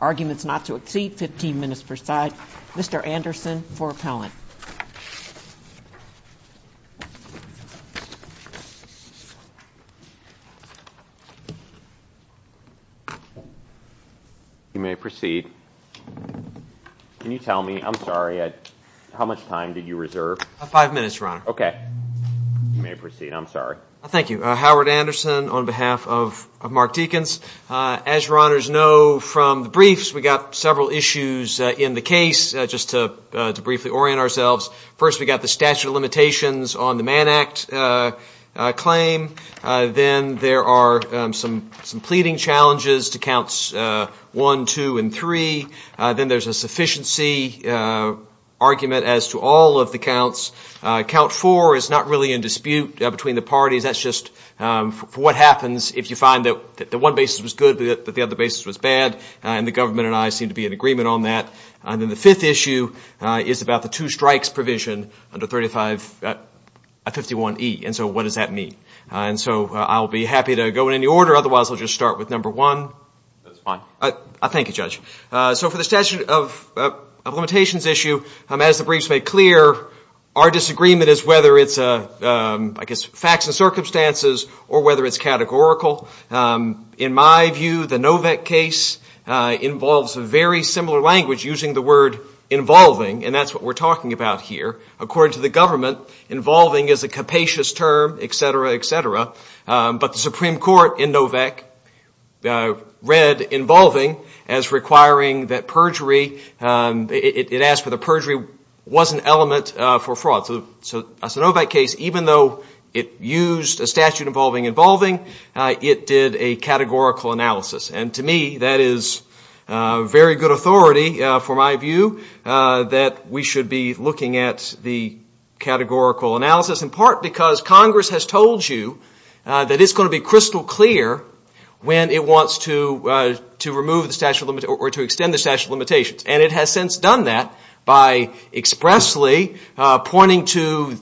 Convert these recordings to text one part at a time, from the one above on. Arguments not to exceed 15 minutes per side. Mr. Anderson for appellant. You may proceed. Can you tell me, I'm sorry, how much time did you reserve? Five minutes, Your Honor. Okay. You may proceed. I'm sorry. Thank you. Howard Anderson on behalf of Mark Deakins. As Your Honors know from the briefs, we got several issues in the case. Just to briefly orient ourselves, first we got the statute of limitations on the Mann Act claim. Then there are some pleading challenges to counts one, two, and three. Then there's a sufficiency argument as to all of the counts. Count four is not really in dispute between the parties. That's just what happens if you find that the one basis was good but the other basis was bad. And the government and I seem to be in agreement on that. And then the fifth issue is about the two strikes provision under 3551E. And so what does that mean? And so I'll be happy to go in any order. Otherwise, I'll just start with number one. That's fine. Thank you, Judge. So for the statute of limitations issue, as the briefs made clear, our disagreement is whether it's, I guess, facts and circumstances or whether it's categorical. In my view, the Novec case involves a very similar language using the word involving, and that's what we're talking about here. According to the government, involving is a capacious term, et cetera, et cetera. But the Supreme Court in Novec read involving as requiring that perjury. It asked for the perjury was an element for fraud. So the Novec case, even though it used a statute involving involving, it did a categorical analysis. And to me, that is very good authority for my view that we should be looking at the categorical analysis, in part because Congress has told you that it's going to be crystal clear when it wants to remove the statute of limitations or to extend the statute of limitations. And it has since done that by expressly pointing to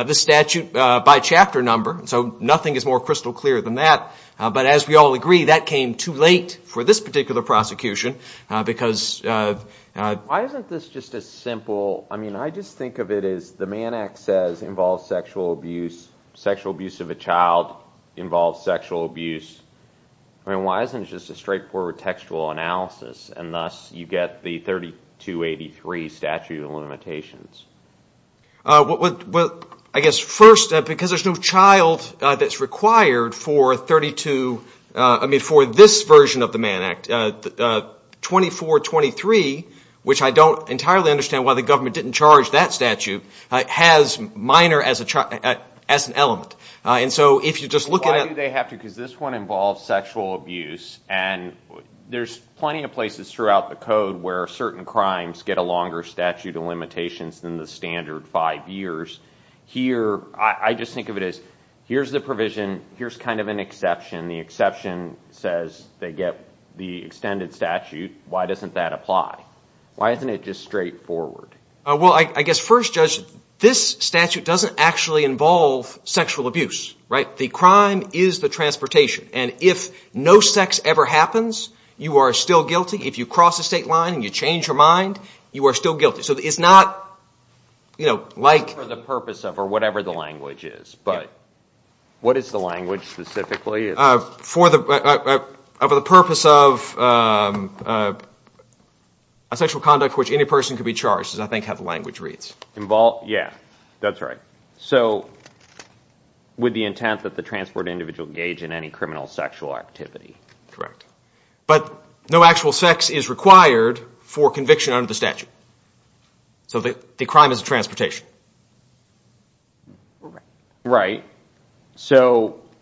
the statute by chapter number. So nothing is more crystal clear than that. But as we all agree, that came too late for this particular prosecution because of – Why isn't this just a simple – I mean, I just think of it as the Mann Act says involves sexual abuse. Sexual abuse of a child involves sexual abuse. I mean, why isn't it just a straightforward textual analysis, and thus you get the 3283 statute of limitations? Well, I guess first, because there's no child that's required for 32 – I mean, for this version of the Mann Act, 2423, which I don't entirely understand why the government didn't charge that statute, has minor as an element. And so if you're just looking at – Why do they have to? Because this one involves sexual abuse, and there's plenty of places throughout the code where certain crimes get a longer statute of limitations than the standard five years. Here, I just think of it as here's the provision, here's kind of an exception. The exception says they get the extended statute. Why doesn't that apply? Why isn't it just straightforward? Well, I guess first, Judge, this statute doesn't actually involve sexual abuse, right? The crime is the transportation, and if no sex ever happens, you are still guilty. If you cross the state line and you change your mind, you are still guilty. So it's not like – For the purpose of or whatever the language is, but what is the language specifically? For the purpose of a sexual conduct for which any person could be charged is, I think, how the language reads. Yeah, that's right. So with the intent that the transport individual engage in any criminal sexual activity. Correct. But no actual sex is required for conviction under the statute. So the crime is transportation. Right.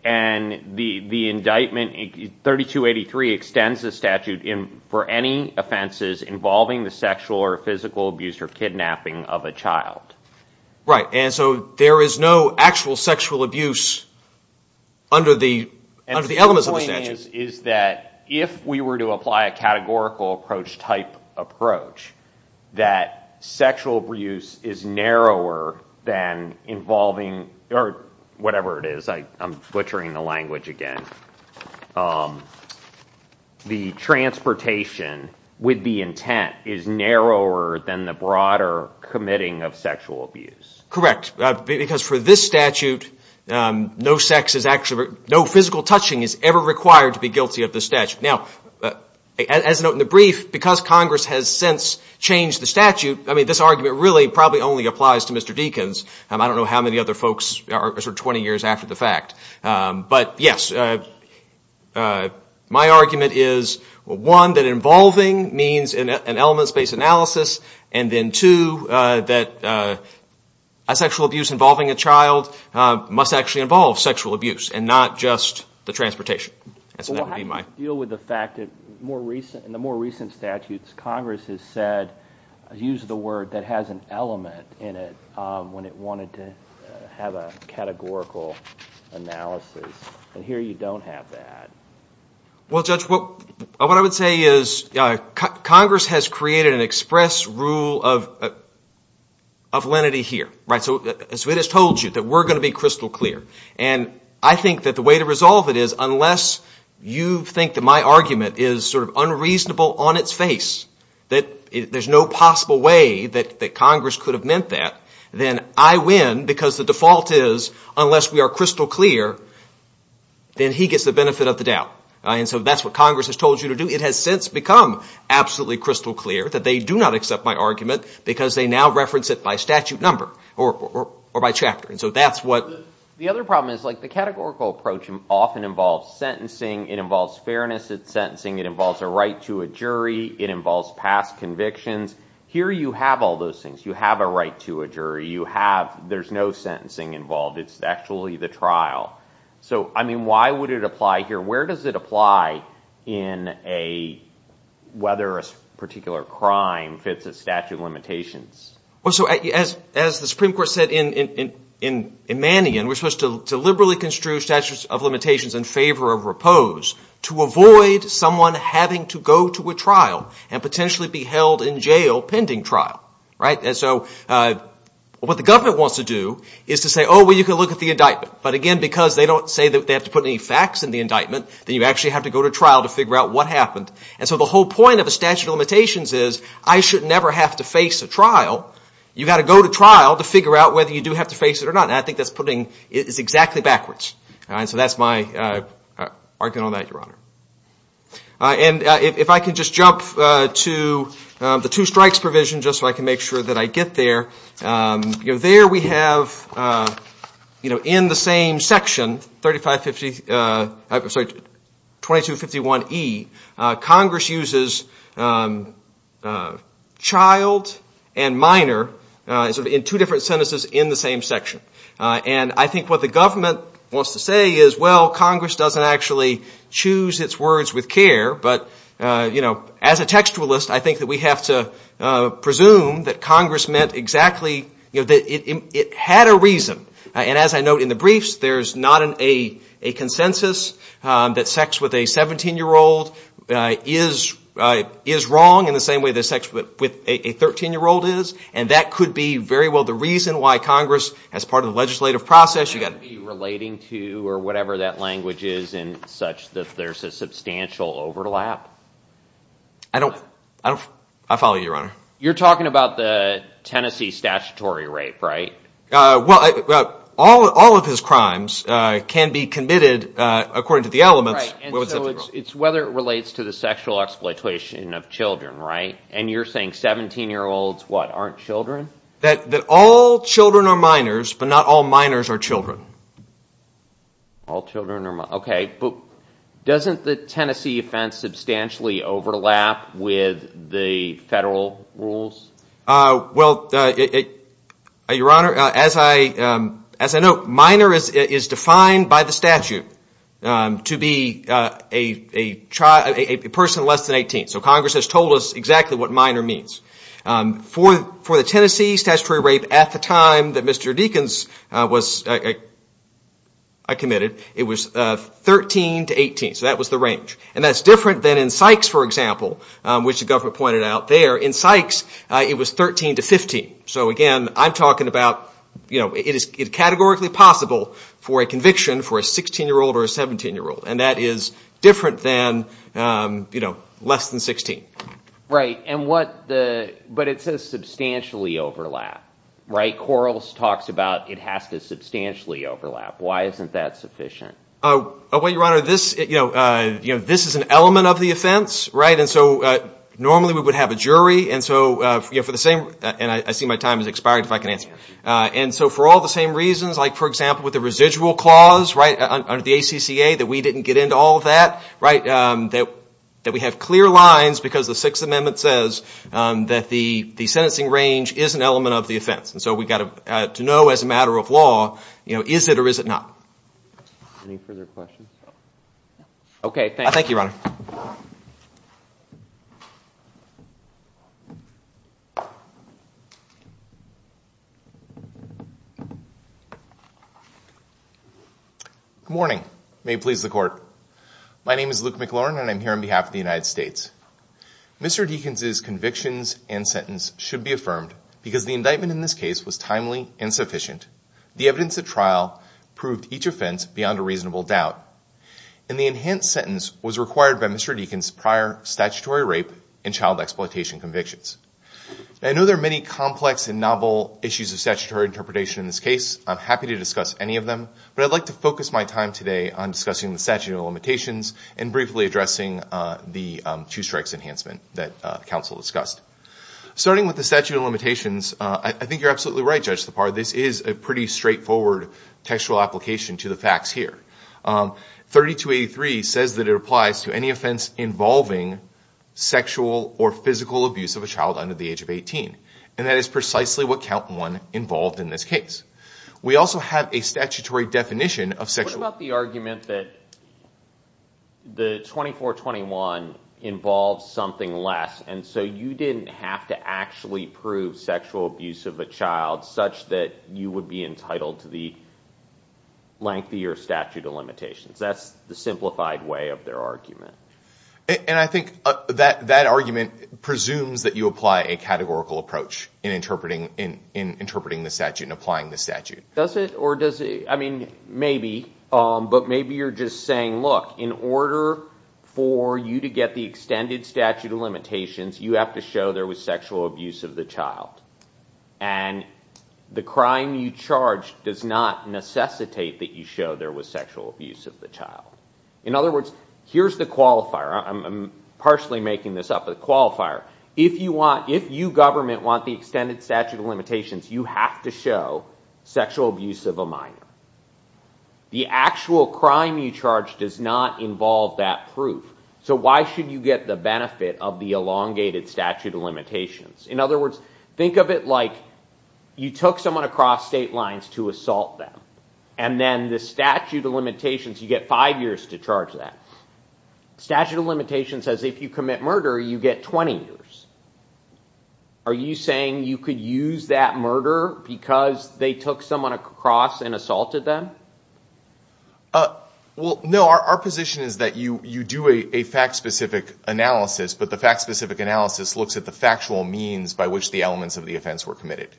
And the indictment, 3283, extends the statute for any offenses involving the sexual or physical abuse or kidnapping of a child. Right. And so there is no actual sexual abuse under the elements of the statute. if we were to apply a categorical approach type approach that sexual abuse is narrower than involving – or whatever it is, I'm butchering the language again. The transportation with the intent is narrower than the broader committing of sexual abuse. Correct. Because for this statute, no physical touching is ever required to be guilty of the statute. Now, as noted in the brief, because Congress has since changed the statute, I mean, this argument really probably only applies to Mr. Deakins. I don't know how many other folks are sort of 20 years after the fact. But, yes, my argument is, one, that involving means an elements-based analysis, and then, two, that a sexual abuse involving a child must actually involve sexual abuse and not just the transportation. Well, how do you deal with the fact that in the more recent statutes Congress has said – used the word that has an element in it when it wanted to have a categorical analysis? And here you don't have that. Well, Judge, what I would say is Congress has created an express rule of lenity here. So it has told you that we're going to be crystal clear. And I think that the way to resolve it is unless you think that my argument is sort of unreasonable on its face, that there's no possible way that Congress could have meant that, then I win because the default is unless we are crystal clear, then he gets the benefit of the doubt. And so that's what Congress has told you to do. It has since become absolutely crystal clear that they do not accept my argument because they now reference it by statute number or by chapter. And so that's what – The other problem is, like, the categorical approach often involves sentencing. It involves fairness at sentencing. It involves a right to a jury. It involves past convictions. Here you have all those things. You have a right to a jury. You have – there's no sentencing involved. It's actually the trial. So, I mean, why would it apply here? Where does it apply in a – whether a particular crime fits a statute of limitations? Well, so as the Supreme Court said in Mannion, we're supposed to liberally construe statutes of limitations in favor of repose to avoid someone having to go to a trial and potentially be held in jail pending trial. Right? And so what the government wants to do is to say, oh, well, you can look at the indictment. But again, because they don't say that they have to put any facts in the indictment, then you actually have to go to trial to figure out what happened. And so the whole point of a statute of limitations is I should never have to face a trial. You've got to go to trial to figure out whether you do have to face it or not. And I think that's putting – it's exactly backwards. And so that's my argument on that, Your Honor. And if I can just jump to the two strikes provision just so I can make sure that I get there. You know, there we have, you know, in the same section, 3550 – I'm sorry, 2251E, Congress uses child and minor in two different sentences in the same section. And I think what the government wants to say is, well, Congress doesn't actually choose its words with care. But, you know, as a textualist, I think that we have to presume that Congress meant exactly – that it had a reason. And as I note in the briefs, there's not a consensus that sex with a 17-year-old is wrong in the same way that sex with a 13-year-old is. And that could be very well the reason why Congress, as part of the legislative process, you've got to be relating to or whatever that language is in such that there's a substantial overlap. I don't – I follow you, Your Honor. You're talking about the Tennessee statutory rape, right? Well, all of his crimes can be committed according to the elements. Right, and so it's whether it relates to the sexual exploitation of children, right? And you're saying 17-year-olds, what, aren't children? That all children are minors, but not all minors are children. All children are – okay, but doesn't the Tennessee offense substantially overlap with the federal rules? Well, Your Honor, as I note, minor is defined by the statute to be a person less than 18. So Congress has told us exactly what minor means. For the Tennessee statutory rape at the time that Mr. Deakins was committed, it was 13 to 18. So that was the range. And that's different than in Sykes, for example, which the government pointed out there. In Sykes, it was 13 to 15. So again, I'm talking about it is categorically possible for a conviction for a 16-year-old or a 17-year-old. And that is different than less than 16. Right, but it says substantially overlap, right? Quarles talks about it has to substantially overlap. Why isn't that sufficient? Well, Your Honor, this is an element of the offense, right? And so normally we would have a jury, and so for the same – and I see my time has expired, if I can answer. And so for all the same reasons, like, for example, with the residual clause under the ACCA that we didn't get into all of that, that we have clear lines because the Sixth Amendment says that the sentencing range is an element of the offense. And so we've got to know as a matter of law, is it or is it not? Any further questions? Okay, thank you. Thank you, Your Honor. Good morning. May it please the Court. My name is Luke McLaurin, and I'm here on behalf of the United States. Mr. Deakins' convictions and sentence should be affirmed because the indictment in this case was timely and sufficient. The evidence at trial proved each offense beyond a reasonable doubt. And the enhanced sentence was required by Mr. Deakins' prior statutory rape and child exploitation convictions. I know there are many complex and novel issues of statutory interpretation in this case. I'm happy to discuss any of them, but I'd like to focus my time today on discussing the statute of limitations and briefly addressing the two-strikes enhancement that counsel discussed. Starting with the statute of limitations, I think you're absolutely right, Judge Lepar. This is a pretty straightforward textual application to the facts here. 3283 says that it applies to any offense involving sexual or physical abuse of a child under the age of 18. And that is precisely what Count 1 involved in this case. We also have a statutory definition of sexual abuse. What about the argument that the 2421 involves something less, and so you didn't have to actually prove sexual abuse of a child such that you would be entitled to the lengthier statute of limitations? That's the simplified way of their argument. And I think that argument presumes that you apply a categorical approach in interpreting the statute and applying the statute. Does it? Or does it? I mean, maybe. But maybe you're just saying, look, in order for you to get the extended statute of limitations, you have to show there was sexual abuse of the child. And the crime you charge does not necessitate that you show there was sexual abuse of the child. In other words, here's the qualifier. I'm partially making this up. The qualifier, if you government want the extended statute of limitations, you have to show sexual abuse of a minor. The actual crime you charge does not involve that proof. So why should you get the benefit of the elongated statute of limitations? In other words, think of it like you took someone across state lines to assault them. And then the statute of limitations, you get five years to charge that. Statute of limitations says if you commit murder, you get 20 years. Are you saying you could use that murder because they took someone across and assaulted them? Well, no. Our position is that you do a fact-specific analysis, but the fact-specific analysis looks at the factual means by which the elements of the offense were committed.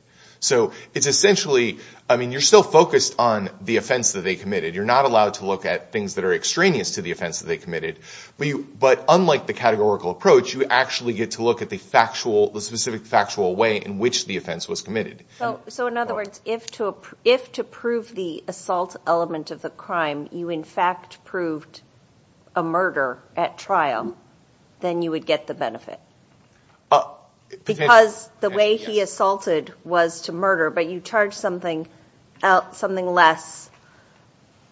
So it's essentially, I mean, you're still focused on the offense that they committed. You're not allowed to look at things that are extraneous to the offense that they committed. But unlike the categorical approach, you actually get to look at the factual, the specific factual way in which the offense was committed. So in other words, if to prove the assault element of the crime, you in fact proved a murder at trial, then you would get the benefit because the way he assaulted was to murder, but you charged something less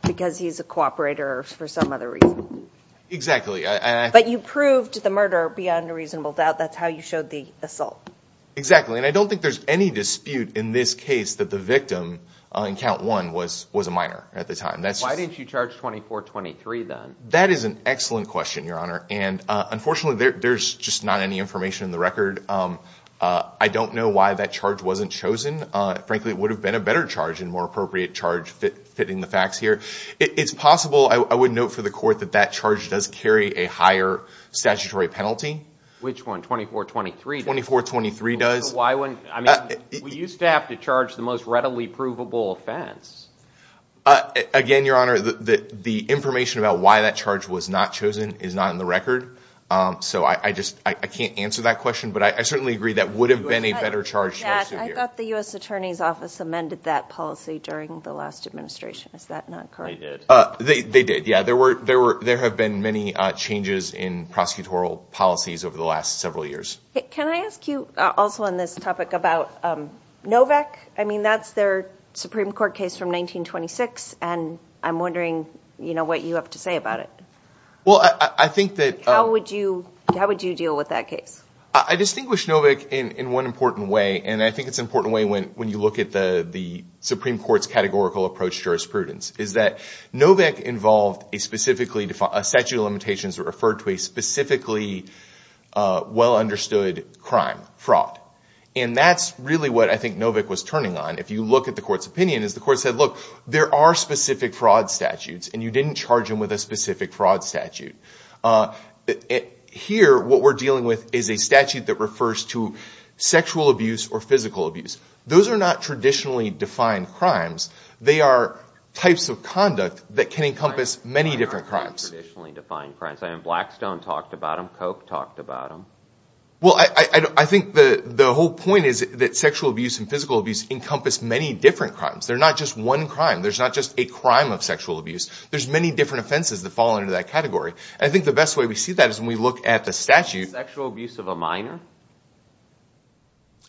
because he's a cooperator for some other reason. But you proved the murder beyond a reasonable doubt. That's how you showed the assault. Exactly. And I don't think there's any dispute in this case that the victim on count one was a minor at the time. Why didn't you charge 24-23 then? That is an excellent question, Your Honor. And unfortunately, there's just not any information in the record. I don't know why that charge wasn't chosen. Frankly, it would have been a better charge and more appropriate charge fitting the facts here. It's possible, I would note for the court, that that charge does carry a higher statutory penalty. Which one, 24-23? 24-23 does. Why wouldn't, I mean, we used to have to charge the most readily provable offense. Again, Your Honor, the information about why that charge was not chosen is not in the record. So I can't answer that question, but I certainly agree that would have been a better charge. I thought the U.S. Attorney's Office amended that policy during the last administration. Is that not correct? They did. They did, yeah. There have been many changes in prosecutorial policies over the last several years. Can I ask you also on this topic about Novick? I mean, that's their Supreme Court case from 1926, and I'm wondering what you have to say about it. Well, I think that— How would you deal with that case? I distinguish Novick in one important way, and I think it's an important way when you look at the Supreme Court's categorical approach to jurisprudence. It's that Novick involved a statute of limitations that referred to a specifically well-understood crime, fraud. And that's really what I think Novick was turning on. If you look at the Court's opinion, the Court said, look, there are specific fraud statutes, and you didn't charge them with a specific fraud statute. Here, what we're dealing with is a statute that refers to sexual abuse or physical abuse. Those are not traditionally defined crimes. They are types of conduct that can encompass many different crimes. Blackstone talked about them. Koch talked about them. Well, I think the whole point is that sexual abuse and physical abuse encompass many different crimes. They're not just one crime. There's not just a crime of sexual abuse. There's many different offenses that fall under that category. I think the best way we see that is when we look at the statute. Sexual abuse of a minor?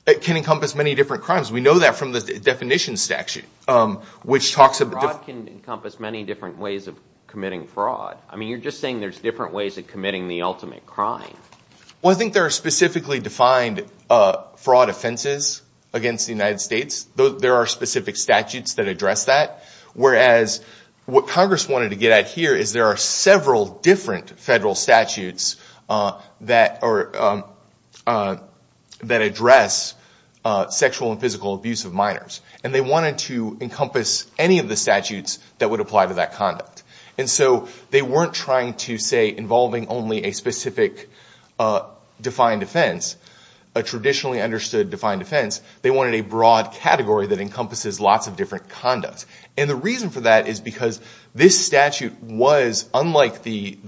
It can encompass many different crimes. We know that from the definition statute. Fraud can encompass many different ways of committing fraud. I mean, you're just saying there's different ways of committing the ultimate crime. Well, I think there are specifically defined fraud offenses against the United States. There are specific statutes that address that. What Congress wanted to get at here is there are several different federal statutes that address sexual and physical abuse of minors. They wanted to encompass any of the statutes that would apply to that conduct. They weren't trying to say involving only a specific defined offense, a traditionally understood defined offense. They wanted a broad category that encompasses lots of different conducts. The reason for that is because this statute was, unlike the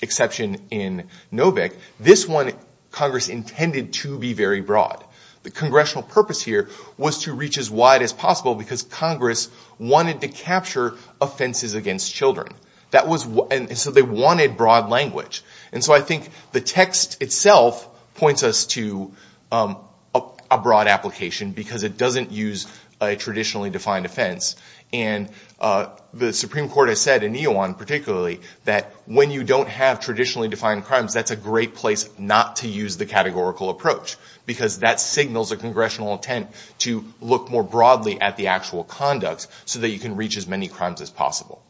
exception in Novick, this one Congress intended to be very broad. The congressional purpose here was to reach as wide as possible because Congress wanted to capture offenses against children. They wanted broad language. I think the text itself points us to a broad application because it doesn't use a traditionally defined offense. The Supreme Court has said, in Eowon particularly, that when you don't have traditionally defined crimes, that's a great place not to use the categorical approach. That signals a congressional intent to look more broadly at the actual conducts so that you can reach as many crimes as possible.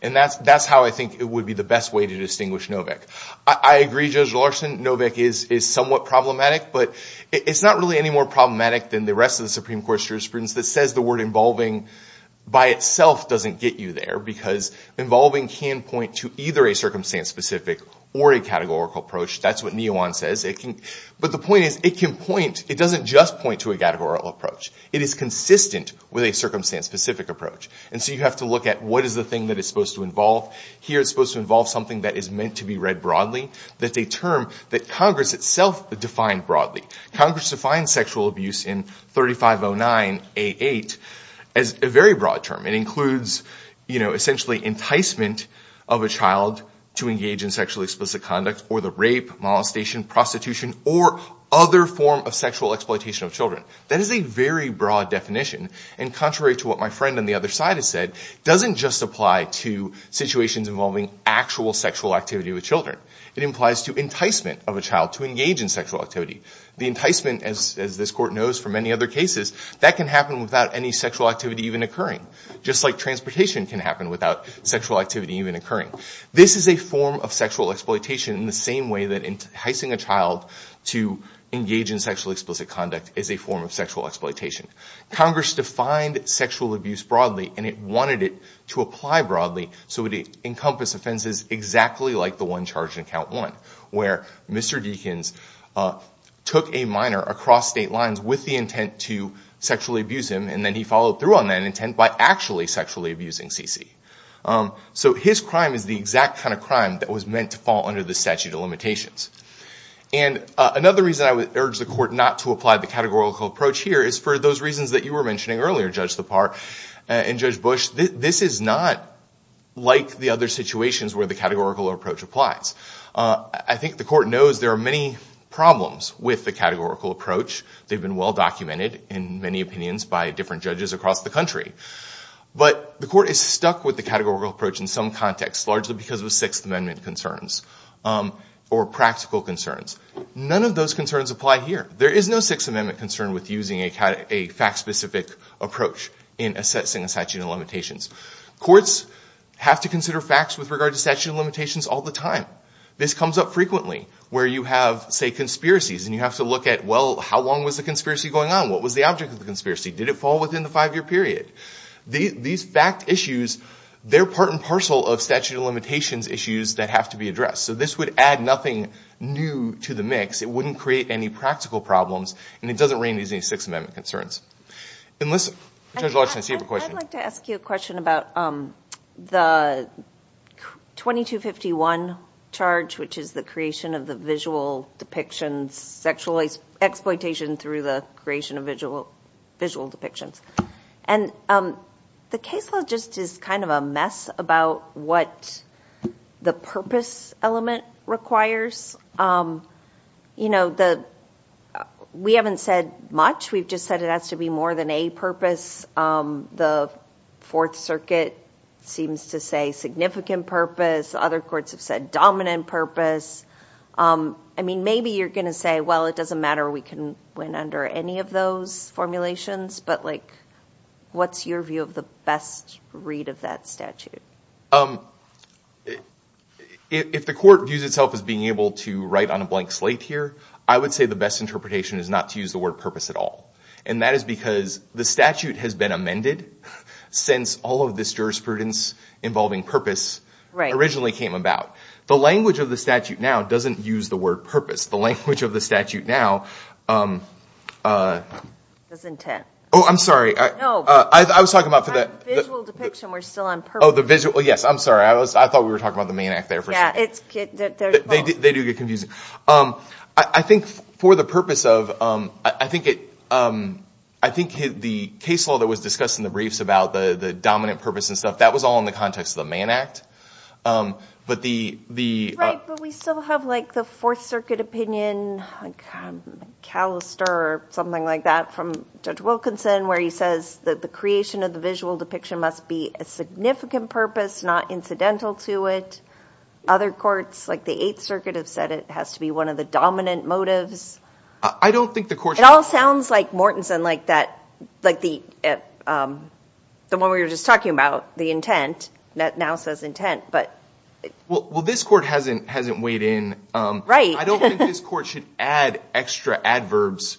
That's how I think it would be the best way to distinguish Novick. I agree, Judge Larson, Novick is somewhat problematic. But it's not really any more problematic than the rest of the Supreme Court's jurisprudence that says the word involving by itself doesn't get you there. Because involving can point to either a circumstance-specific or a categorical approach. That's what Eowon says. But the point is it can point. It doesn't just point to a categorical approach. It is consistent with a circumstance-specific approach. And so you have to look at what is the thing that it's supposed to involve. Here it's supposed to involve something that is meant to be read broadly. That's a term that Congress itself defined broadly. Congress defined sexual abuse in 3509A8 as a very broad term. It includes essentially enticement of a child to engage in sexually explicit conduct or the rape, molestation, prostitution, or other form of sexual exploitation of children. That is a very broad definition. And contrary to what my friend on the other side has said, it doesn't just apply to situations involving actual sexual activity with children. It implies to enticement of a child to engage in sexual activity. The enticement, as this Court knows from many other cases, that can happen without any sexual activity even occurring, just like transportation can happen without sexual activity even occurring. This is a form of sexual exploitation in the same way that enticing a child to engage in sexually explicit conduct is a form of sexual exploitation. Congress defined sexual abuse broadly, and it wanted it to apply broadly so it would encompass offenses exactly like the one charged in Count 1, where Mr. Deakins took a minor across state lines with the intent to sexually abuse him, and then he followed through on that intent by actually sexually abusing Cece. So his crime is the exact kind of crime that was meant to fall under the statute of limitations. And another reason I would urge the Court not to apply the categorical approach here is for those reasons that you were mentioning earlier, Judge Lepar and Judge Bush. This is not like the other situations where the categorical approach applies. I think the Court knows there are many problems with the categorical approach. They've been well documented, in many opinions, by different judges across the country. But the Court is stuck with the categorical approach in some contexts, largely because of Sixth Amendment concerns or practical concerns. None of those concerns apply here. There is no Sixth Amendment concern with using a fact-specific approach in assessing a statute of limitations. Courts have to consider facts with regard to statute of limitations all the time. This comes up frequently where you have, say, conspiracies, and you have to look at, well, how long was the conspiracy going on? What was the object of the conspiracy? Did it fall within the five-year period? These fact issues, they're part and parcel of statute of limitations issues that have to be addressed. So this would add nothing new to the mix. It wouldn't create any practical problems, and it doesn't rein in any Sixth Amendment concerns. Judge Larson, I see you have a question. I'd like to ask you a question about the 2251 charge, which is the creation of the visual depictions, sexual exploitation through the creation of visual depictions. And the case law just is kind of a mess about what the purpose element requires. We haven't said much. We've just said it has to be more than a purpose. The Fourth Circuit seems to say significant purpose. Other courts have said dominant purpose. I mean, maybe you're going to say, well, it doesn't matter. We can win under any of those formulations. But what's your view of the best read of that statute? If the court views itself as being able to write on a blank slate here, I would say the best interpretation is not to use the word purpose at all. And that is because the statute has been amended since all of this jurisprudence involving purpose originally came about. The language of the statute now doesn't use the word purpose. The language of the statute now — That's intent. Oh, I'm sorry. No. I was talking about — The visual depiction. We're still on purpose. Oh, the visual. Yes, I'm sorry. I thought we were talking about the Mann Act there for a second. They do get confusing. I think for the purpose of — I think the case law that was discussed in the briefs about the dominant purpose and stuff, that was all in the context of the Mann Act. But the — Right, but we still have, like, the Fourth Circuit opinion, like Callister or something like that from Judge Wilkinson, where he says that the creation of the visual depiction must be a significant purpose, not incidental to it. Other courts, like the Eighth Circuit, have said it has to be one of the dominant motives. I don't think the court — It all sounds like Mortensen, like the one we were just talking about, the intent, that now says intent, but — Well, this court hasn't weighed in. Right. I don't think this court should add extra adverbs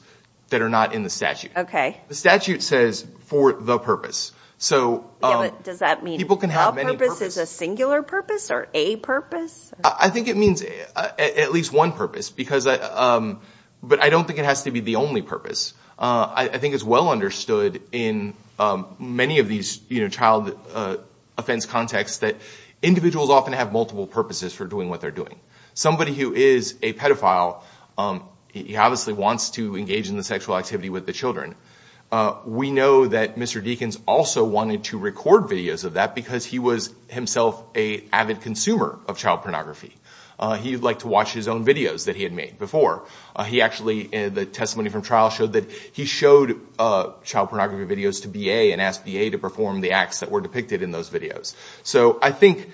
that are not in the statute. Okay. The statute says for the purpose. Yeah, but does that mean all purpose is a singular purpose or a purpose? I think it means at least one purpose because — but I don't think it has to be the only purpose. I think it's well understood in many of these child offense contexts that individuals often have multiple purposes for doing what they're doing. Somebody who is a pedophile, he obviously wants to engage in the sexual activity with the children. We know that Mr. Deakins also wanted to record videos of that because he was himself an avid consumer of child pornography. He liked to watch his own videos that he had made before. He actually — the testimony from trial showed that he showed child pornography videos to B.A. and asked B.A. to perform the acts that were depicted in those videos. So I think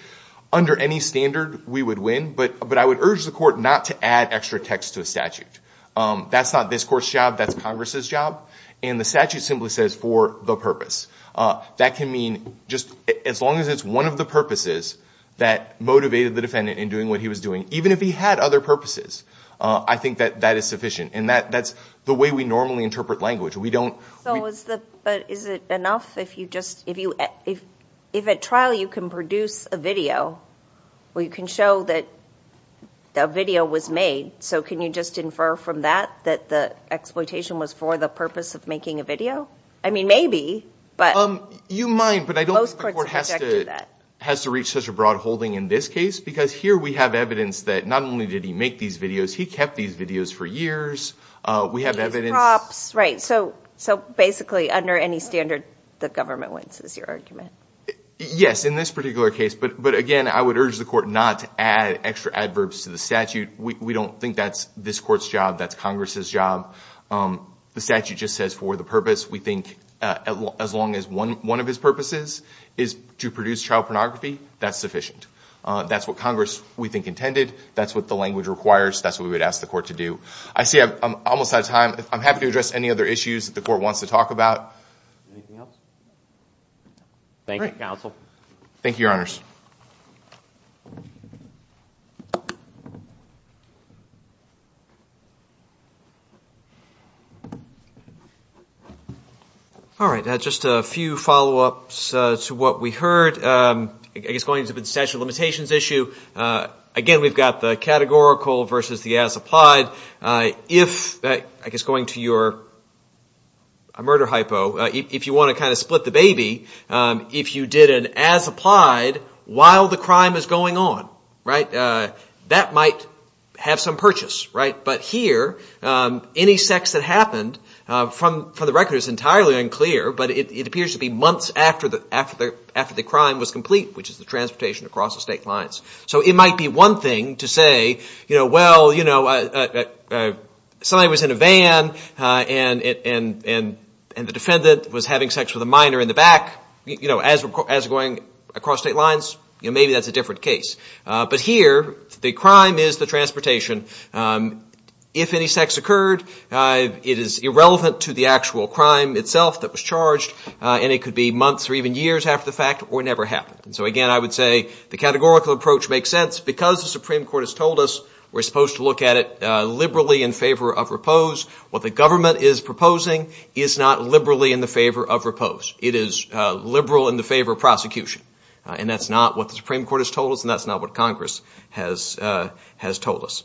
under any standard, we would win, but I would urge the court not to add extra text to a statute. That's not this court's job. That's Congress's job. And the statute simply says for the purpose. That can mean just — as long as it's one of the purposes that motivated the defendant in doing what he was doing, even if he had other purposes, I think that that is sufficient. And that's the way we normally interpret language. We don't — But is it enough if you just — if at trial you can produce a video where you can show that a video was made, so can you just infer from that that the exploitation was for the purpose of making a video? I mean, maybe, but — You might, but I don't think the court has to reach such a broad holding in this case, because here we have evidence that not only did he make these videos, he kept these videos for years. We have evidence — Right. So basically, under any standard, the government wins is your argument. Yes, in this particular case. But again, I would urge the court not to add extra adverbs to the statute. We don't think that's this court's job. That's Congress's job. The statute just says for the purpose. We think as long as one of his purposes is to produce child pornography, that's sufficient. That's what Congress, we think, intended. That's what the language requires. That's what we would ask the court to do. I see I'm almost out of time. I'm happy to address any other issues that the court wants to talk about. Anything else? Thank you, counsel. Thank you, Your Honors. All right, just a few follow-ups to what we heard. I guess going into the statute of limitations issue, again, we've got the categorical versus the as-applied. If, I guess going to your murder hypo, if you want to kind of split the baby, if you did an as-applied while the crime is going on, that might have some purchase. But here, any sex that happened from the record is entirely unclear, but it appears to be months after the crime was complete, which is the transportation across the state lines. So it might be one thing to say, well, somebody was in a van, and the defendant was having sex with a minor in the back as going across state lines. Maybe that's a different case. But here, the crime is the transportation. If any sex occurred, it is irrelevant to the actual crime itself that was charged, and it could be months or even years after the fact or never happened. So, again, I would say the categorical approach makes sense. Because the Supreme Court has told us we're supposed to look at it liberally in favor of repose, what the government is proposing is not liberally in the favor of repose. It is liberal in the favor of prosecution. And that's not what the Supreme Court has told us, and that's not what Congress has told us.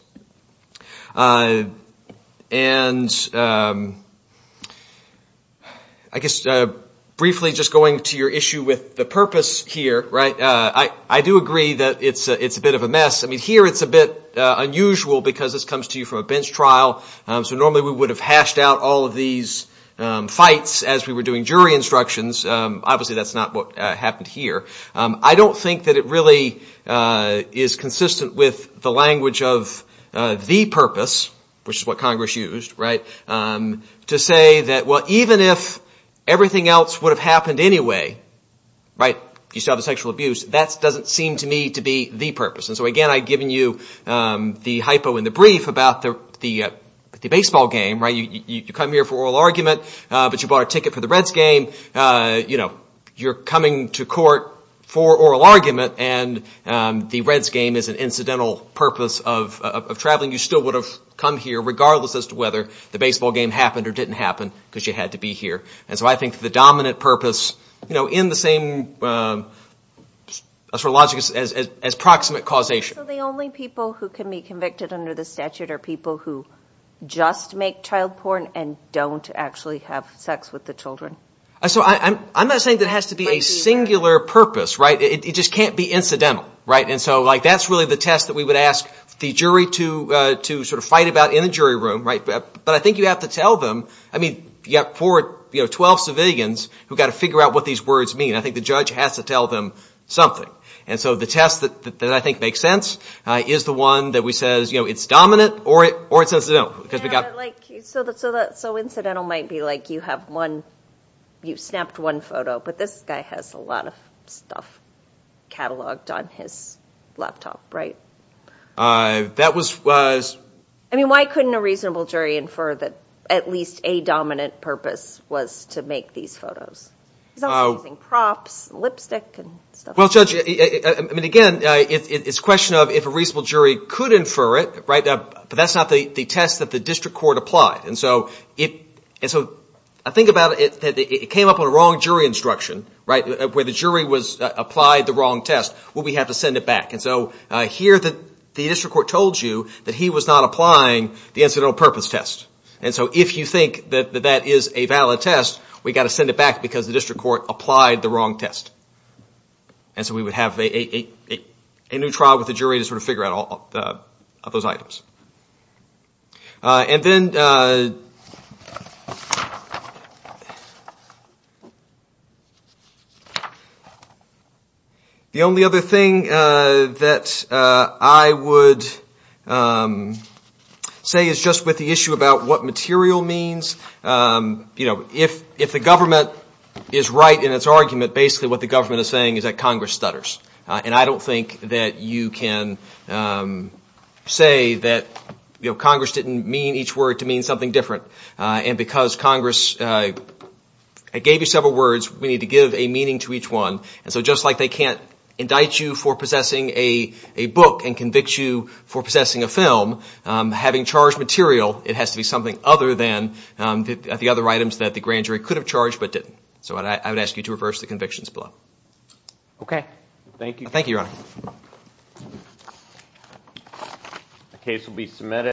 And I guess briefly just going to your issue with the purpose here, right, I do agree that it's a bit of a mess. I mean, here it's a bit unusual because this comes to you from a bench trial. So normally we would have hashed out all of these fights as we were doing jury instructions. Obviously, that's not what happened here. I don't think that it really is consistent with the language of the purpose, which is what Congress used, right, to say that, well, even if everything else would have happened anyway, right, you still have the sexual abuse, that doesn't seem to me to be the purpose. And so, again, I've given you the hypo in the brief about the baseball game, right? You come here for oral argument, but you bought a ticket for the Reds game. You're coming to court for oral argument, and the Reds game is an incidental purpose of traveling. You still would have come here regardless as to whether the baseball game happened or didn't happen because you had to be here. And so I think the dominant purpose in the same sort of logic as proximate causation. So the only people who can be convicted under the statute are people who just make child porn and don't actually have sex with the children. So I'm not saying that it has to be a singular purpose, right? It just can't be incidental, right? And so, like, that's really the test that we would ask the jury to sort of fight about in the jury room, right? But I think you have to tell them, I mean, you have 12 civilians who have got to figure out what these words mean. I think the judge has to tell them something. And so the test that I think makes sense is the one that says it's dominant or it's incidental. So incidental might be like you have one – you've snapped one photo, but this guy has a lot of stuff cataloged on his laptop, right? That was – I mean, why couldn't a reasonable jury infer that at least a dominant purpose was to make these photos? He's also using props and lipstick and stuff like that. Well, Judge, I mean, again, it's a question of if a reasonable jury could infer it, right? But that's not the test that the district court applied. And so I think about it that it came up on a wrong jury instruction, right, where the jury applied the wrong test. Well, we have to send it back. And so here the district court told you that he was not applying the incidental purpose test. And so if you think that that is a valid test, we've got to send it back because the district court applied the wrong test. And so we would have a new trial with the jury to sort of figure out all of those items. And then the only other thing that I would say is just with the issue about what material means. You know, if the government is right in its argument, basically what the government is saying is that Congress stutters. And I don't think that you can say that Congress didn't mean each word to mean something different. And because Congress gave you several words, we need to give a meaning to each one. And so just like they can't indict you for possessing a book and convict you for possessing a film, having charged material, it has to be something other than the other items that the grand jury could have charged but didn't. So I would ask you to reverse the convictions below. OK. Thank you. Thank you, Your Honor.